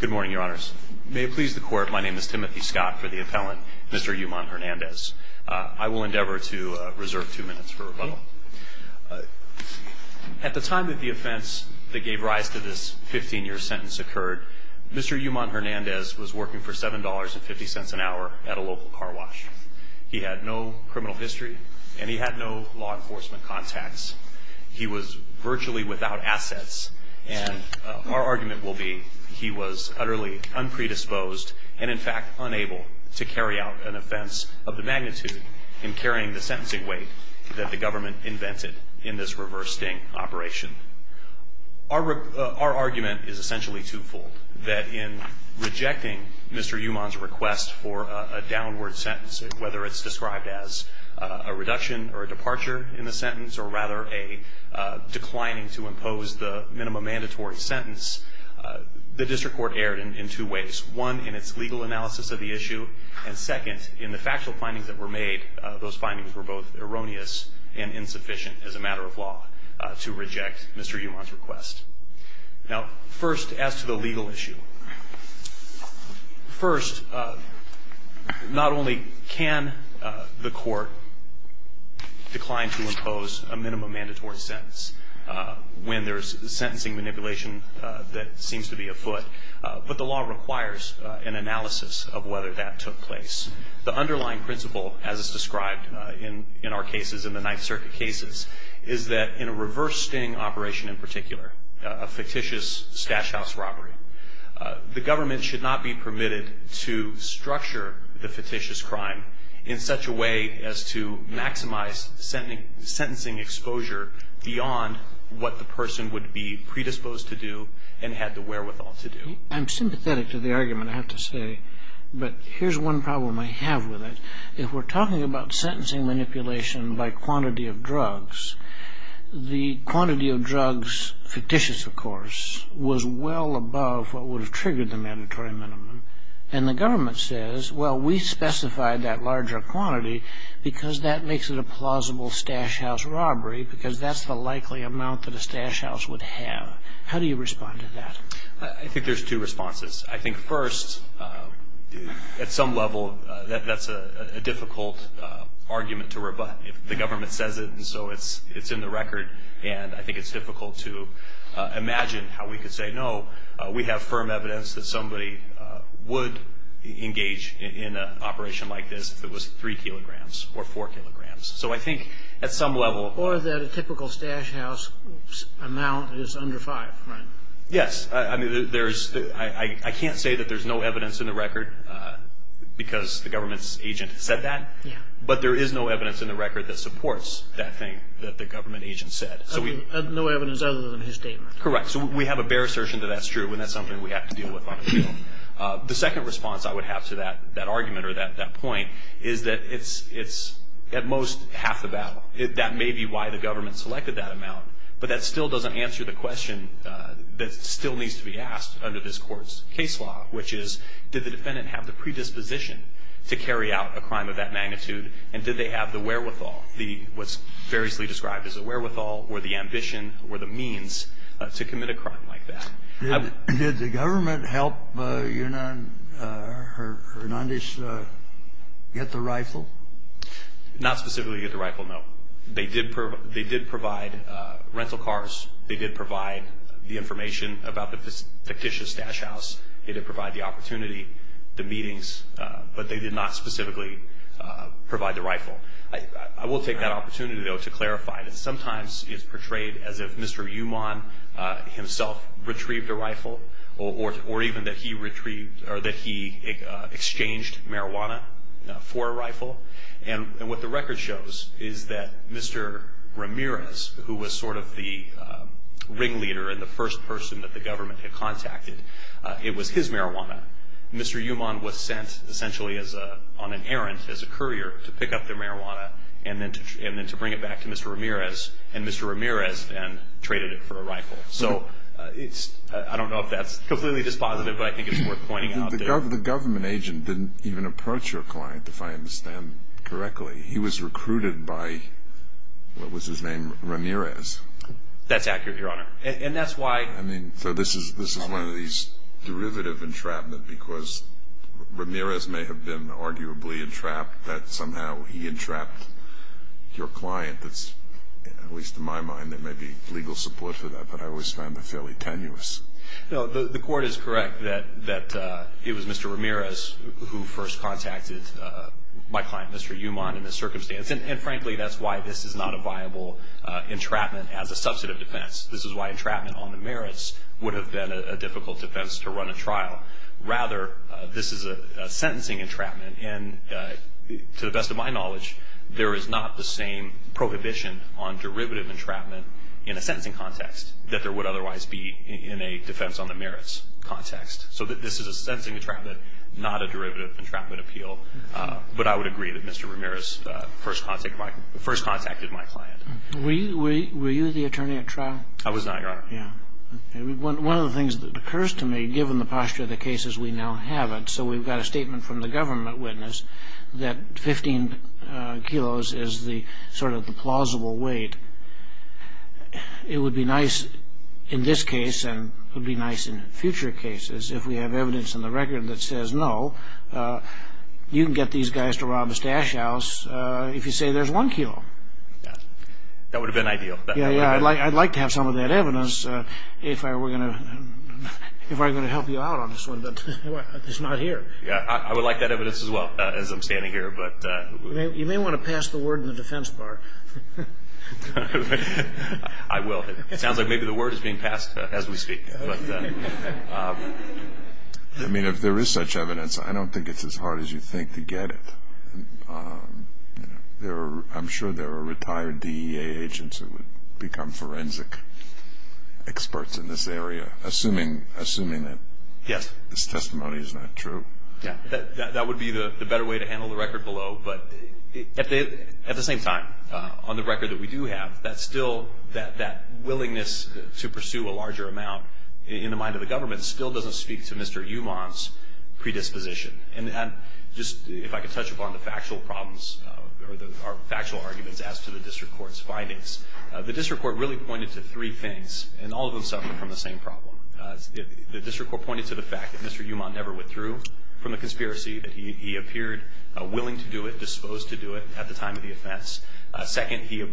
Good morning, your honors. May it please the court, my name is Timothy Scott for the appellant, Mr. Yuman-Hernandez. I will endeavor to reserve two minutes for rebuttal. At the time that the offense that gave rise to this 15-year sentence occurred, Mr. Yuman-Hernandez was working for $7.50 an hour at a local car wash. He had no criminal history and he had no law enforcement contacts. He was virtually without assets and our argument will be he was utterly unpredisposed and in fact unable to carry out an offense of the magnitude in carrying the sentencing weight that the government invented in this reverse sting operation. Our argument is essentially twofold. That in rejecting Mr. Yuman's request for a downward sentence, whether it's described as a reduction or a departure in the sentence or rather a declining to impose the minimum mandatory sentence, the district court erred in two ways. One, in its legal analysis of the issue and second, in the factual findings that were made, those findings were both erroneous and insufficient as a matter of law to reject Mr. Yuman's request. Now, first, as to the legal issue. First, not only can the court decline to impose a minimum mandatory sentence when there's sentencing manipulation that seems to be afoot, but the law requires an analysis of whether that took place. The underlying principle, as it's described in our cases, in the Ninth Circuit cases, is that in a reverse sting operation in particular, a fictitious stash house robbery, the government should not be permitted to structure the fictitious crime in such a way as to maximize sentencing exposure beyond what the person would be predisposed to do and had the wherewithal to do. I'm sympathetic to the argument, I have to say, but here's one problem I have with it. If we're talking about sentencing manipulation by quantity of drugs, the quantity of drugs fictitious, of course, was well above what would have triggered the mandatory minimum. And the government says, well, we specified that larger quantity because that makes it a plausible stash house robbery because that's the likely amount that a stash house would have. How do you respond to that? I think there's two responses. I think, first, at some level, that's a difficult argument to rebut. The government says it, and so it's in the record, and I think it's difficult to imagine how we could say, no, we have firm evidence that somebody would engage in an operation like this if it was 3 kilograms or 4 kilograms. So I think at some level... Or that a typical stash house amount is under 5, right? Yes. I mean, I can't say that there's no evidence in the record because the government's agent said that, but there is no evidence in the record that supports that thing that the government agent said. No evidence other than his statement. Correct. So we have a bare assertion that that's true, and that's something we have to deal with on the field. The second response I would have to that argument or that point is that it's at most half the battle. That may be why the government selected that amount, but that still doesn't answer the question that still needs to be asked under this Court's case law, which is did the defendant have the predisposition to carry out a crime of that magnitude, and did they have the wherewithal, what's variously described as the wherewithal or the ambition or the means to commit a crime like that? Did the government help Hernandez get the rifle? Not specifically get the rifle, no. They did provide rental cars. They did provide the information about the fictitious stash house. They did provide the opportunity, the meetings, but they did not specifically provide the rifle. I will take that opportunity, though, to clarify that sometimes it's portrayed as if Mr. Uman himself retrieved a rifle or even that he exchanged marijuana for a rifle, and what the record shows is that Mr. Ramirez, who was sort of the ringleader and the first person that the government had contacted, it was his marijuana. Mr. Uman was sent essentially on an errand as a courier to pick up the marijuana and then to bring it back to Mr. Ramirez, and Mr. Ramirez then traded it for a rifle. So I don't know if that's completely dispositive, but I think it's worth pointing out. The government agent didn't even approach your client, if I understand correctly. He was recruited by what was his name, Ramirez. That's accurate, Your Honor, and that's why. I mean, so this is one of these derivative entrapment because Ramirez may have been arguably entrapped, that somehow he entrapped your client. At least in my mind there may be legal support for that, but I always find that fairly tenuous. The court is correct that it was Mr. Ramirez who first contacted my client, Mr. Uman, in this circumstance, and frankly that's why this is not a viable entrapment as a substantive defense. This is why entrapment on the merits would have been a difficult defense to run a trial. Rather, this is a sentencing entrapment, and to the best of my knowledge there is not the same prohibition on derivative entrapment in a sentencing context that there would otherwise be in a defense on the merits context. So this is a sentencing entrapment, not a derivative entrapment appeal, but I would agree that Mr. Ramirez first contacted my client. Were you the attorney at trial? I was not, Your Honor. One of the things that occurs to me, given the posture of the case as we now have it, so we've got a statement from the government witness that 15 kilos is sort of the plausible weight. It would be nice in this case, and it would be nice in future cases, if we have evidence in the record that says, no, you can get these guys to rob a stash house if you say there's one kilo. That would have been ideal. Yeah, I'd like to have some of that evidence if I were going to help you out on this one, but it's not here. I would like that evidence as well as I'm standing here. You may want to pass the word in the defense bar. I will. It sounds like maybe the word is being passed as we speak. I mean, if there is such evidence, I don't think it's as hard as you think to get it. I'm sure there are retired DEA agents who would become forensic experts in this area, assuming that this testimony is not true. Yeah, that would be the better way to handle the record below. But at the same time, on the record that we do have, that willingness to pursue a larger amount in the mind of the government still doesn't speak to Mr. Uman's predisposition. Just if I could touch upon the factual problems or the factual arguments as to the district court's findings. The district court really pointed to three things, and all of them suffer from the same problem. The district court pointed to the fact that Mr. Uman never withdrew from the conspiracy, that he appeared willing to do it, disposed to do it at the time of the offense. Second, he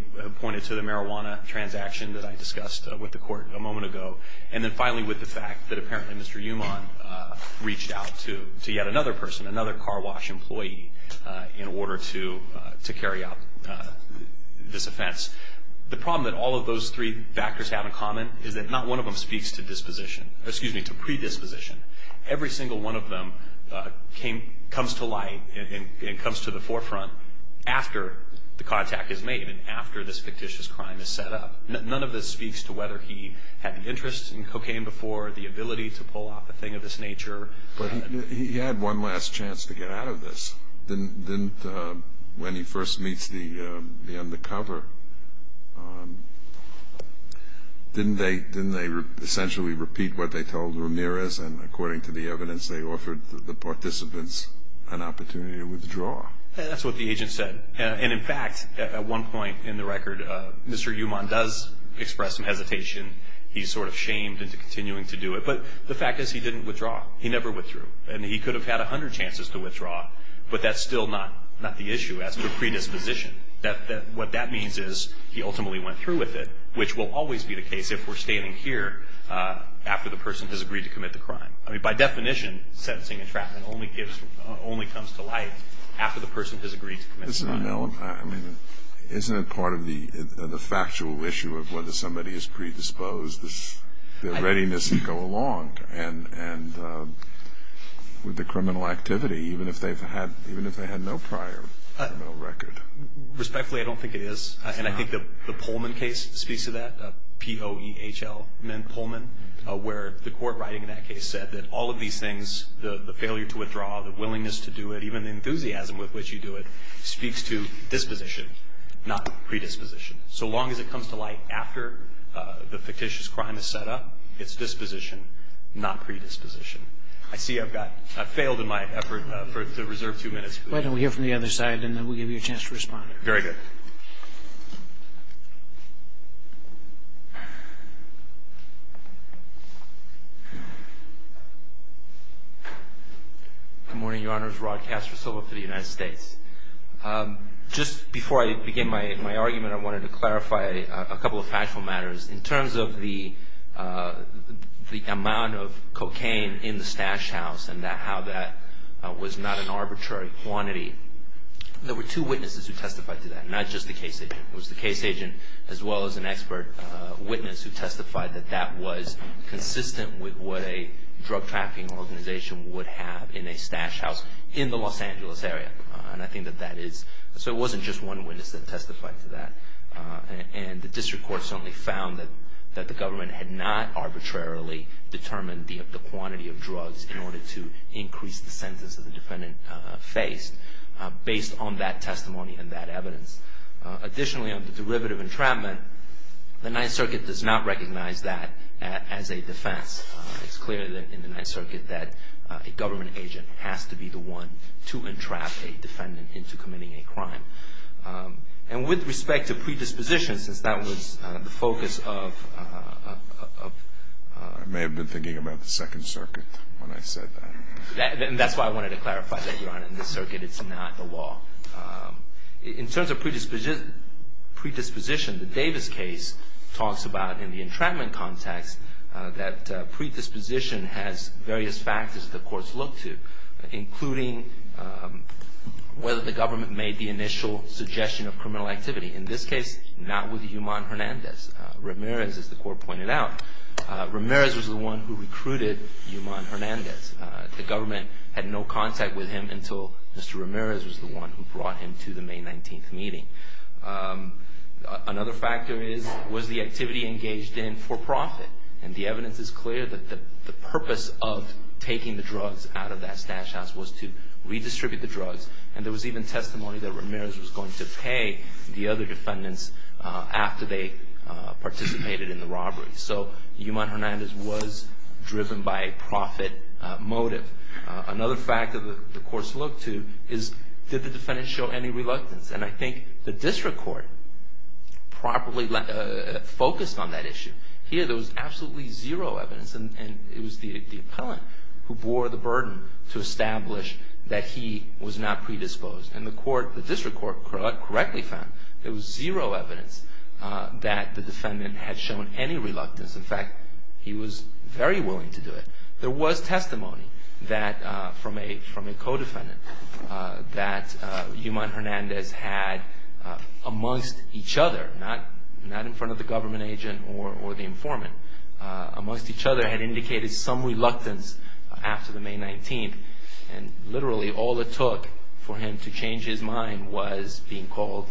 pointed to the marijuana transaction that I discussed with the court a moment ago. And then finally, with the fact that apparently Mr. Uman reached out to yet another person, another car wash employee, in order to carry out this offense. The problem that all of those three factors have in common is that not one of them speaks to predisposition. Every single one of them comes to light and comes to the forefront after the contact is made and after this fictitious crime is set up. None of this speaks to whether he had an interest in cocaine before, the ability to pull off a thing of this nature. But he had one last chance to get out of this. When he first meets the undercover, didn't they essentially repeat what they told Ramirez, and according to the evidence they offered the participants an opportunity to withdraw? That's what the agent said. And in fact, at one point in the record, Mr. Uman does express some hesitation. He's sort of shamed into continuing to do it. But the fact is he didn't withdraw. He never withdrew. And he could have had 100 chances to withdraw, but that's still not the issue as to predisposition. What that means is he ultimately went through with it, which will always be the case if we're standing here after the person has agreed to commit the crime. I mean, by definition, sentencing and trapment only comes to light after the person has agreed to commit the crime. Isn't it part of the factual issue of whether somebody is predisposed, their readiness to go along with the criminal activity, even if they had no prior criminal record? Respectfully, I don't think it is. And I think the Pullman case speaks to that, P-O-E-H-L meant Pullman, where the court writing in that case said that all of these things, the failure to withdraw, the willingness to do it, even the enthusiasm with which you do it, speaks to disposition, not predisposition. So long as it comes to light after the fictitious crime is set up, it's disposition, not predisposition. I see I've failed in my effort to reserve two minutes. Why don't we hear from the other side, and then we'll give you a chance to respond. Very good. Good morning, Your Honors. Rod Castro Silva for the United States. Just before I begin my argument, I wanted to clarify a couple of factual matters. In terms of the amount of cocaine in the Stash House and how that was not an arbitrary quantity, there were two witnesses who testified to that, not just the case agent. It was the case agent as well as an expert witness who testified that that was consistent with what a drug trafficking organization would have in a Stash House in the Los Angeles area. And I think that that is, so it wasn't just one witness that testified to that. And the district court certainly found that the government had not arbitrarily determined the quantity of drugs in order to increase the sentence that the defendant faced, based on that testimony and that evidence. Additionally, on the derivative entrapment, the Ninth Circuit does not recognize that as a defense. It's clear in the Ninth Circuit that a government agent has to be the one to entrap a defendant into committing a crime. And with respect to predisposition, since that was the focus of... I may have been thinking about the Second Circuit when I said that. And that's why I wanted to clarify that, Your Honor. In the Circuit, it's not the law. In terms of predisposition, the Davis case talks about, in the entrapment context, that predisposition has various factors the courts look to, including whether the government made the initial suggestion of criminal activity. In this case, not with Yuman Hernandez. Ramirez, as the court pointed out, was the one who recruited Yuman Hernandez. The government had no contact with him until Mr. Ramirez was the one who brought him to the May 19th meeting. Another factor was the activity engaged in for profit. And the evidence is clear that the purpose of taking the drugs out of that stash house was to redistribute the drugs. And there was even testimony that Ramirez was going to pay the other defendants after they participated in the robbery. So, Yuman Hernandez was driven by a profit motive. Another factor that the courts look to is, did the defendants show any reluctance? And I think the District Court properly focused on that issue. Here, there was absolutely zero evidence. And it was the appellant who bore the burden to establish that he was not predisposed. And the District Court correctly found there was zero evidence that the defendant had shown any reluctance. In fact, he was very willing to do it. There was testimony from a co-defendant that Yuman Hernandez had, amongst each other, not in front of the government agent or the informant, amongst each other had indicated some reluctance after the May 19th. And literally, all it took for him to change his mind was being called,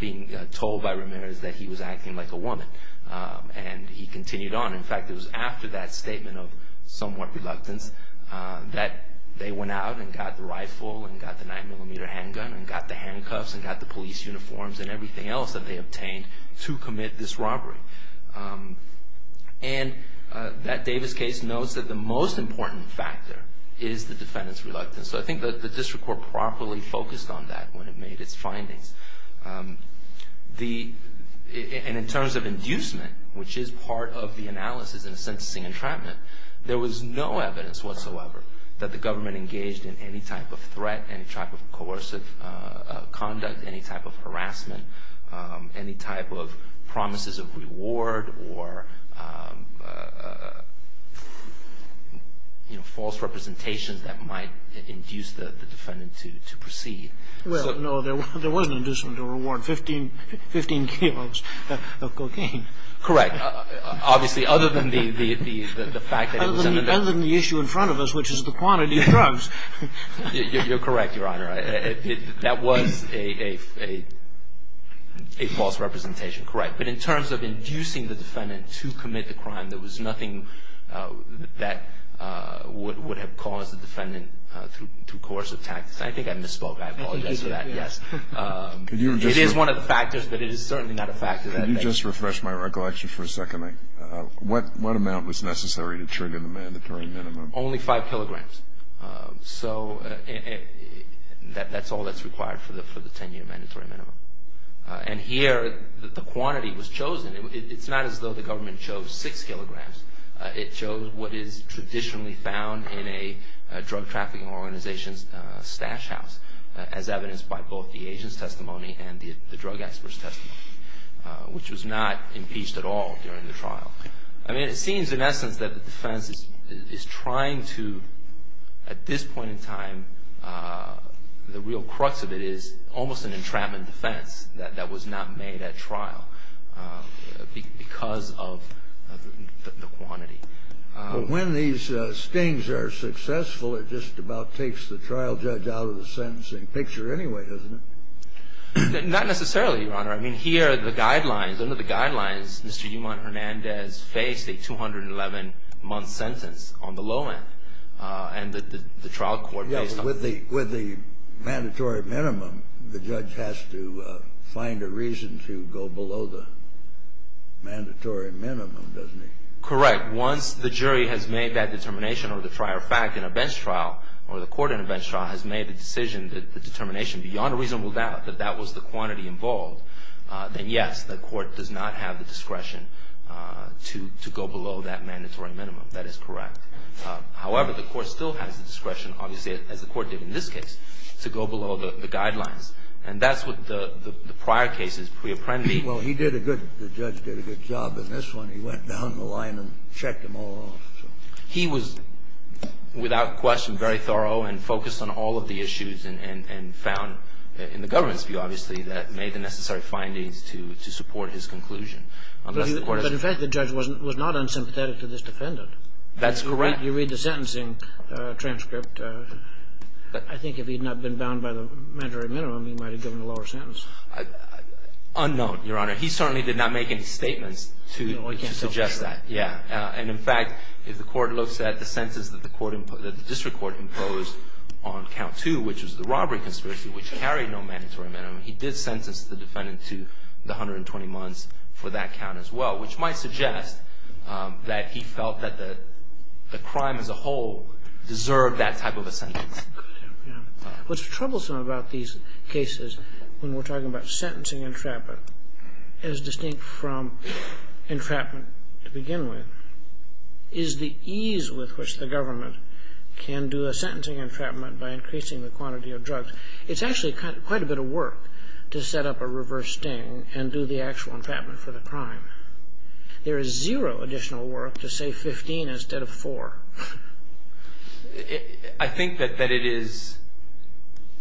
being told by Ramirez that he was acting like a woman. And he continued on. In fact, it was after that statement of somewhat reluctance that they went out and got the rifle and got the 9mm handgun and got the handcuffs and got the police uniforms and everything else that they obtained to commit this robbery. And that Davis case notes that the most important factor is the defendant's reluctance. So I think the District Court properly focused on that when it made its findings. And in terms of inducement, which is part of the analysis in a sentencing entrapment, there was no evidence whatsoever that the government engaged in any type of threat, any type of coercive conduct, any type of harassment, any type of promises of reward or, you know, false representations that might induce the defendant to proceed. Well, no, there was an inducement or reward, 15 kilos of cocaine. Correct. Obviously, other than the fact that it was in the bag. Other than the issue in front of us, which is the quantity of drugs. You're correct, Your Honor. That was a false representation. Correct. But in terms of inducing the defendant to commit the crime, there was nothing that would have caused the defendant to coerce attacks. I think I misspoke. I apologize for that. Yes. It is one of the factors, but it is certainly not a factor. Can you just refresh my recollection for a second? What amount was necessary to trigger the mandatory minimum? Only 5 kilograms. So that's all that's required for the 10-year mandatory minimum. And here, the quantity was chosen. It's not as though the government chose 6 kilograms. It chose what is traditionally found in a drug trafficking organization's stash house, as evidenced by both the agent's testimony and the drug expert's testimony, which was not impeached at all during the trial. I mean, it seems in essence that the defense is trying to, at this point in time, the real crux of it is almost an entrapment defense that was not made at trial because of the quantity. But when these stings are successful, it just about takes the trial judge out of the sentencing picture anyway, doesn't it? Not necessarily, Your Honor. I mean, here are the guidelines. Under the guidelines, Mr. Yuman Hernandez faced a 211-month sentence on the low end, and the trial court based on that. With the mandatory minimum, the judge has to find a reason to go below the mandatory minimum, doesn't he? Correct. Once the jury has made that determination or the prior fact in a bench trial or the court in a bench trial has made a decision, beyond a reasonable doubt that that was the quantity involved, then yes, the court does not have the discretion to go below that mandatory minimum. That is correct. However, the court still has the discretion, obviously, as the court did in this case, to go below the guidelines. And that's what the prior cases pre-apprendi. Well, he did a good – the judge did a good job in this one. He went down the line and checked them all off. He was, without question, very thorough and focused on all of the issues and found in the government's view, obviously, that made the necessary findings to support his conclusion. But in fact, the judge was not unsympathetic to this defendant. That's correct. You read the sentencing transcript. I think if he had not been bound by the mandatory minimum, he might have given a lower sentence. Unknown, Your Honor. He certainly did not make any statements to suggest that. Yeah. And in fact, if the court looks at the sentence that the district court imposed on count two, which was the robbery conspiracy, which carried no mandatory minimum, he did sentence the defendant to the 120 months for that count as well, which might suggest that he felt that the crime as a whole deserved that type of a sentence. What's troublesome about these cases when we're talking about sentencing entrapment is distinct from entrapment to begin with, is the ease with which the government can do a sentencing entrapment by increasing the quantity of drugs. It's actually quite a bit of work to set up a reverse sting and do the actual entrapment for the crime. There is zero additional work to say 15 instead of 4. I think that it is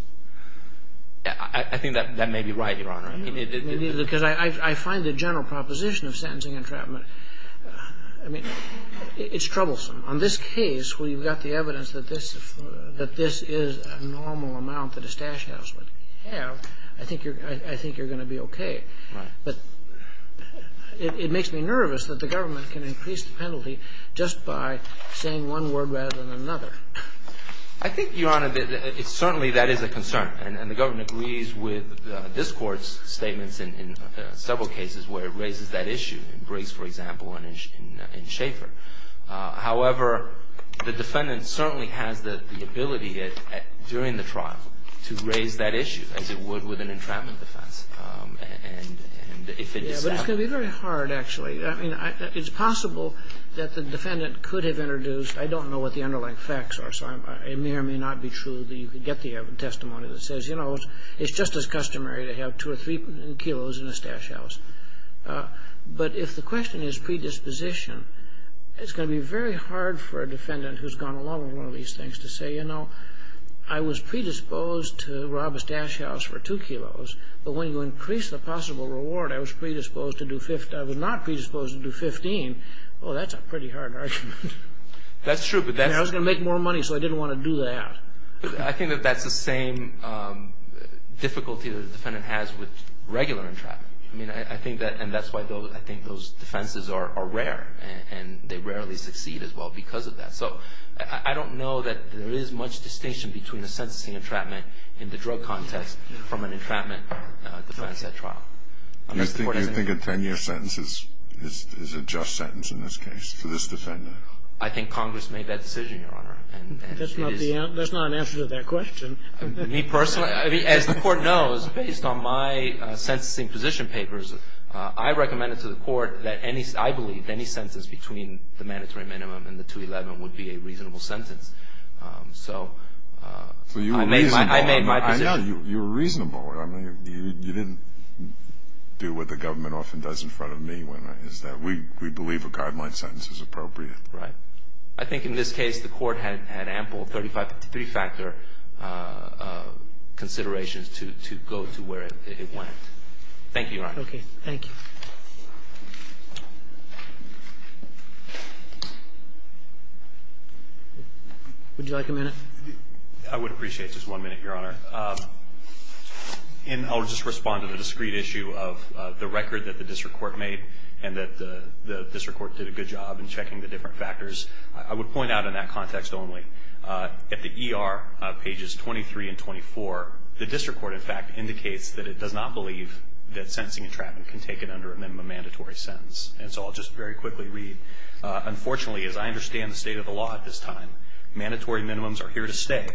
– I think that may be right, Your Honor. Because I find the general proposition of sentencing entrapment – I mean, it's troublesome. On this case, we've got the evidence that this is a normal amount that a stash house would have. I think you're going to be okay. Right. But it makes me nervous that the government can increase the penalty just by saying one word rather than another. I think, Your Honor, that it's certainly – that is a concern. And the government agrees with this Court's statements in several cases where it raises that issue, in Briggs, for example, and in Schaeffer. However, the defendant certainly has the ability during the trial to raise that issue, as it would with an entrapment defense. And if it is that – Yeah, but it's going to be very hard, actually. I mean, it's possible that the defendant could have introduced – I don't know what the underlying facts are, so it may or may not be true that you could get the testimony that says, you know, it's just as customary to have two or three kilos in a stash house. But if the question is predisposition, it's going to be very hard for a defendant who's gone along with one of these things to say, you know, I was predisposed to rob a stash house for two kilos, but when you increase the possible reward, I was predisposed to do – I was not predisposed to do 15. Oh, that's a pretty hard argument. That's true, but that's – I mean, I was going to make more money, so I didn't want to do that. I think that that's the same difficulty that the defendant has with regular entrapment. I mean, I think that – and that's why I think those defenses are rare, and they rarely succeed as well because of that. So I don't know that there is much distinction between a sentencing entrapment in the drug context from an entrapment defense at trial. Do you think a 10-year sentence is a just sentence in this case for this defendant? I think Congress made that decision, Your Honor. That's not the answer – that's not an answer to that question. Me personally – I mean, as the Court knows, based on my sentencing position papers, I recommended to the Court that any – I believe any sentence between the mandatory minimum and the 211 would be a reasonable sentence. So I made my position. No, you were reasonable. I mean, you didn't do what the government often does in front of me, which is that we believe a guideline sentence is appropriate. Right. I think in this case the Court had ample three-factor considerations to go to where it went. Thank you, Your Honor. Okay. Thank you. Would you like a minute? I would appreciate just one minute, Your Honor. And I'll just respond to the discrete issue of the record that the district court made and that the district court did a good job in checking the different factors. I would point out in that context only, at the ER, pages 23 and 24, the district court, in fact, indicates that it does not believe that sentencing entrapment can take it under a minimum mandatory sentence. And so I'll just very quickly read. Unfortunately, as I understand the state of the law at this time, mandatory minimums are here to stay,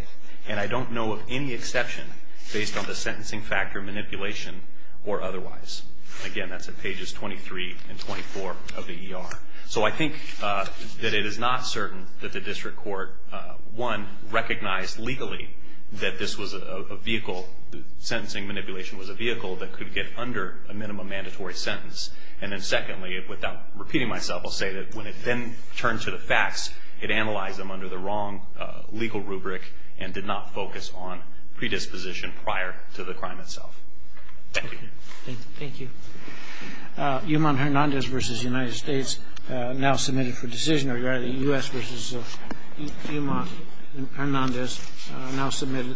and I don't know of any exception based on the sentencing factor manipulation or otherwise. Again, that's at pages 23 and 24 of the ER. So I think that it is not certain that the district court, one, recognized legally that this was a vehicle, that sentencing manipulation was a vehicle that could get under a minimum mandatory sentence. And then secondly, without repeating myself, I'll say that when it then turned to the facts, it analyzed them under the wrong legal rubric and did not focus on predisposition prior to the crime itself. Thank you. Thank you. Yuman Hernandez v. United States now submitted for decision, or rather the U.S. v. Yuman Hernandez now submitted.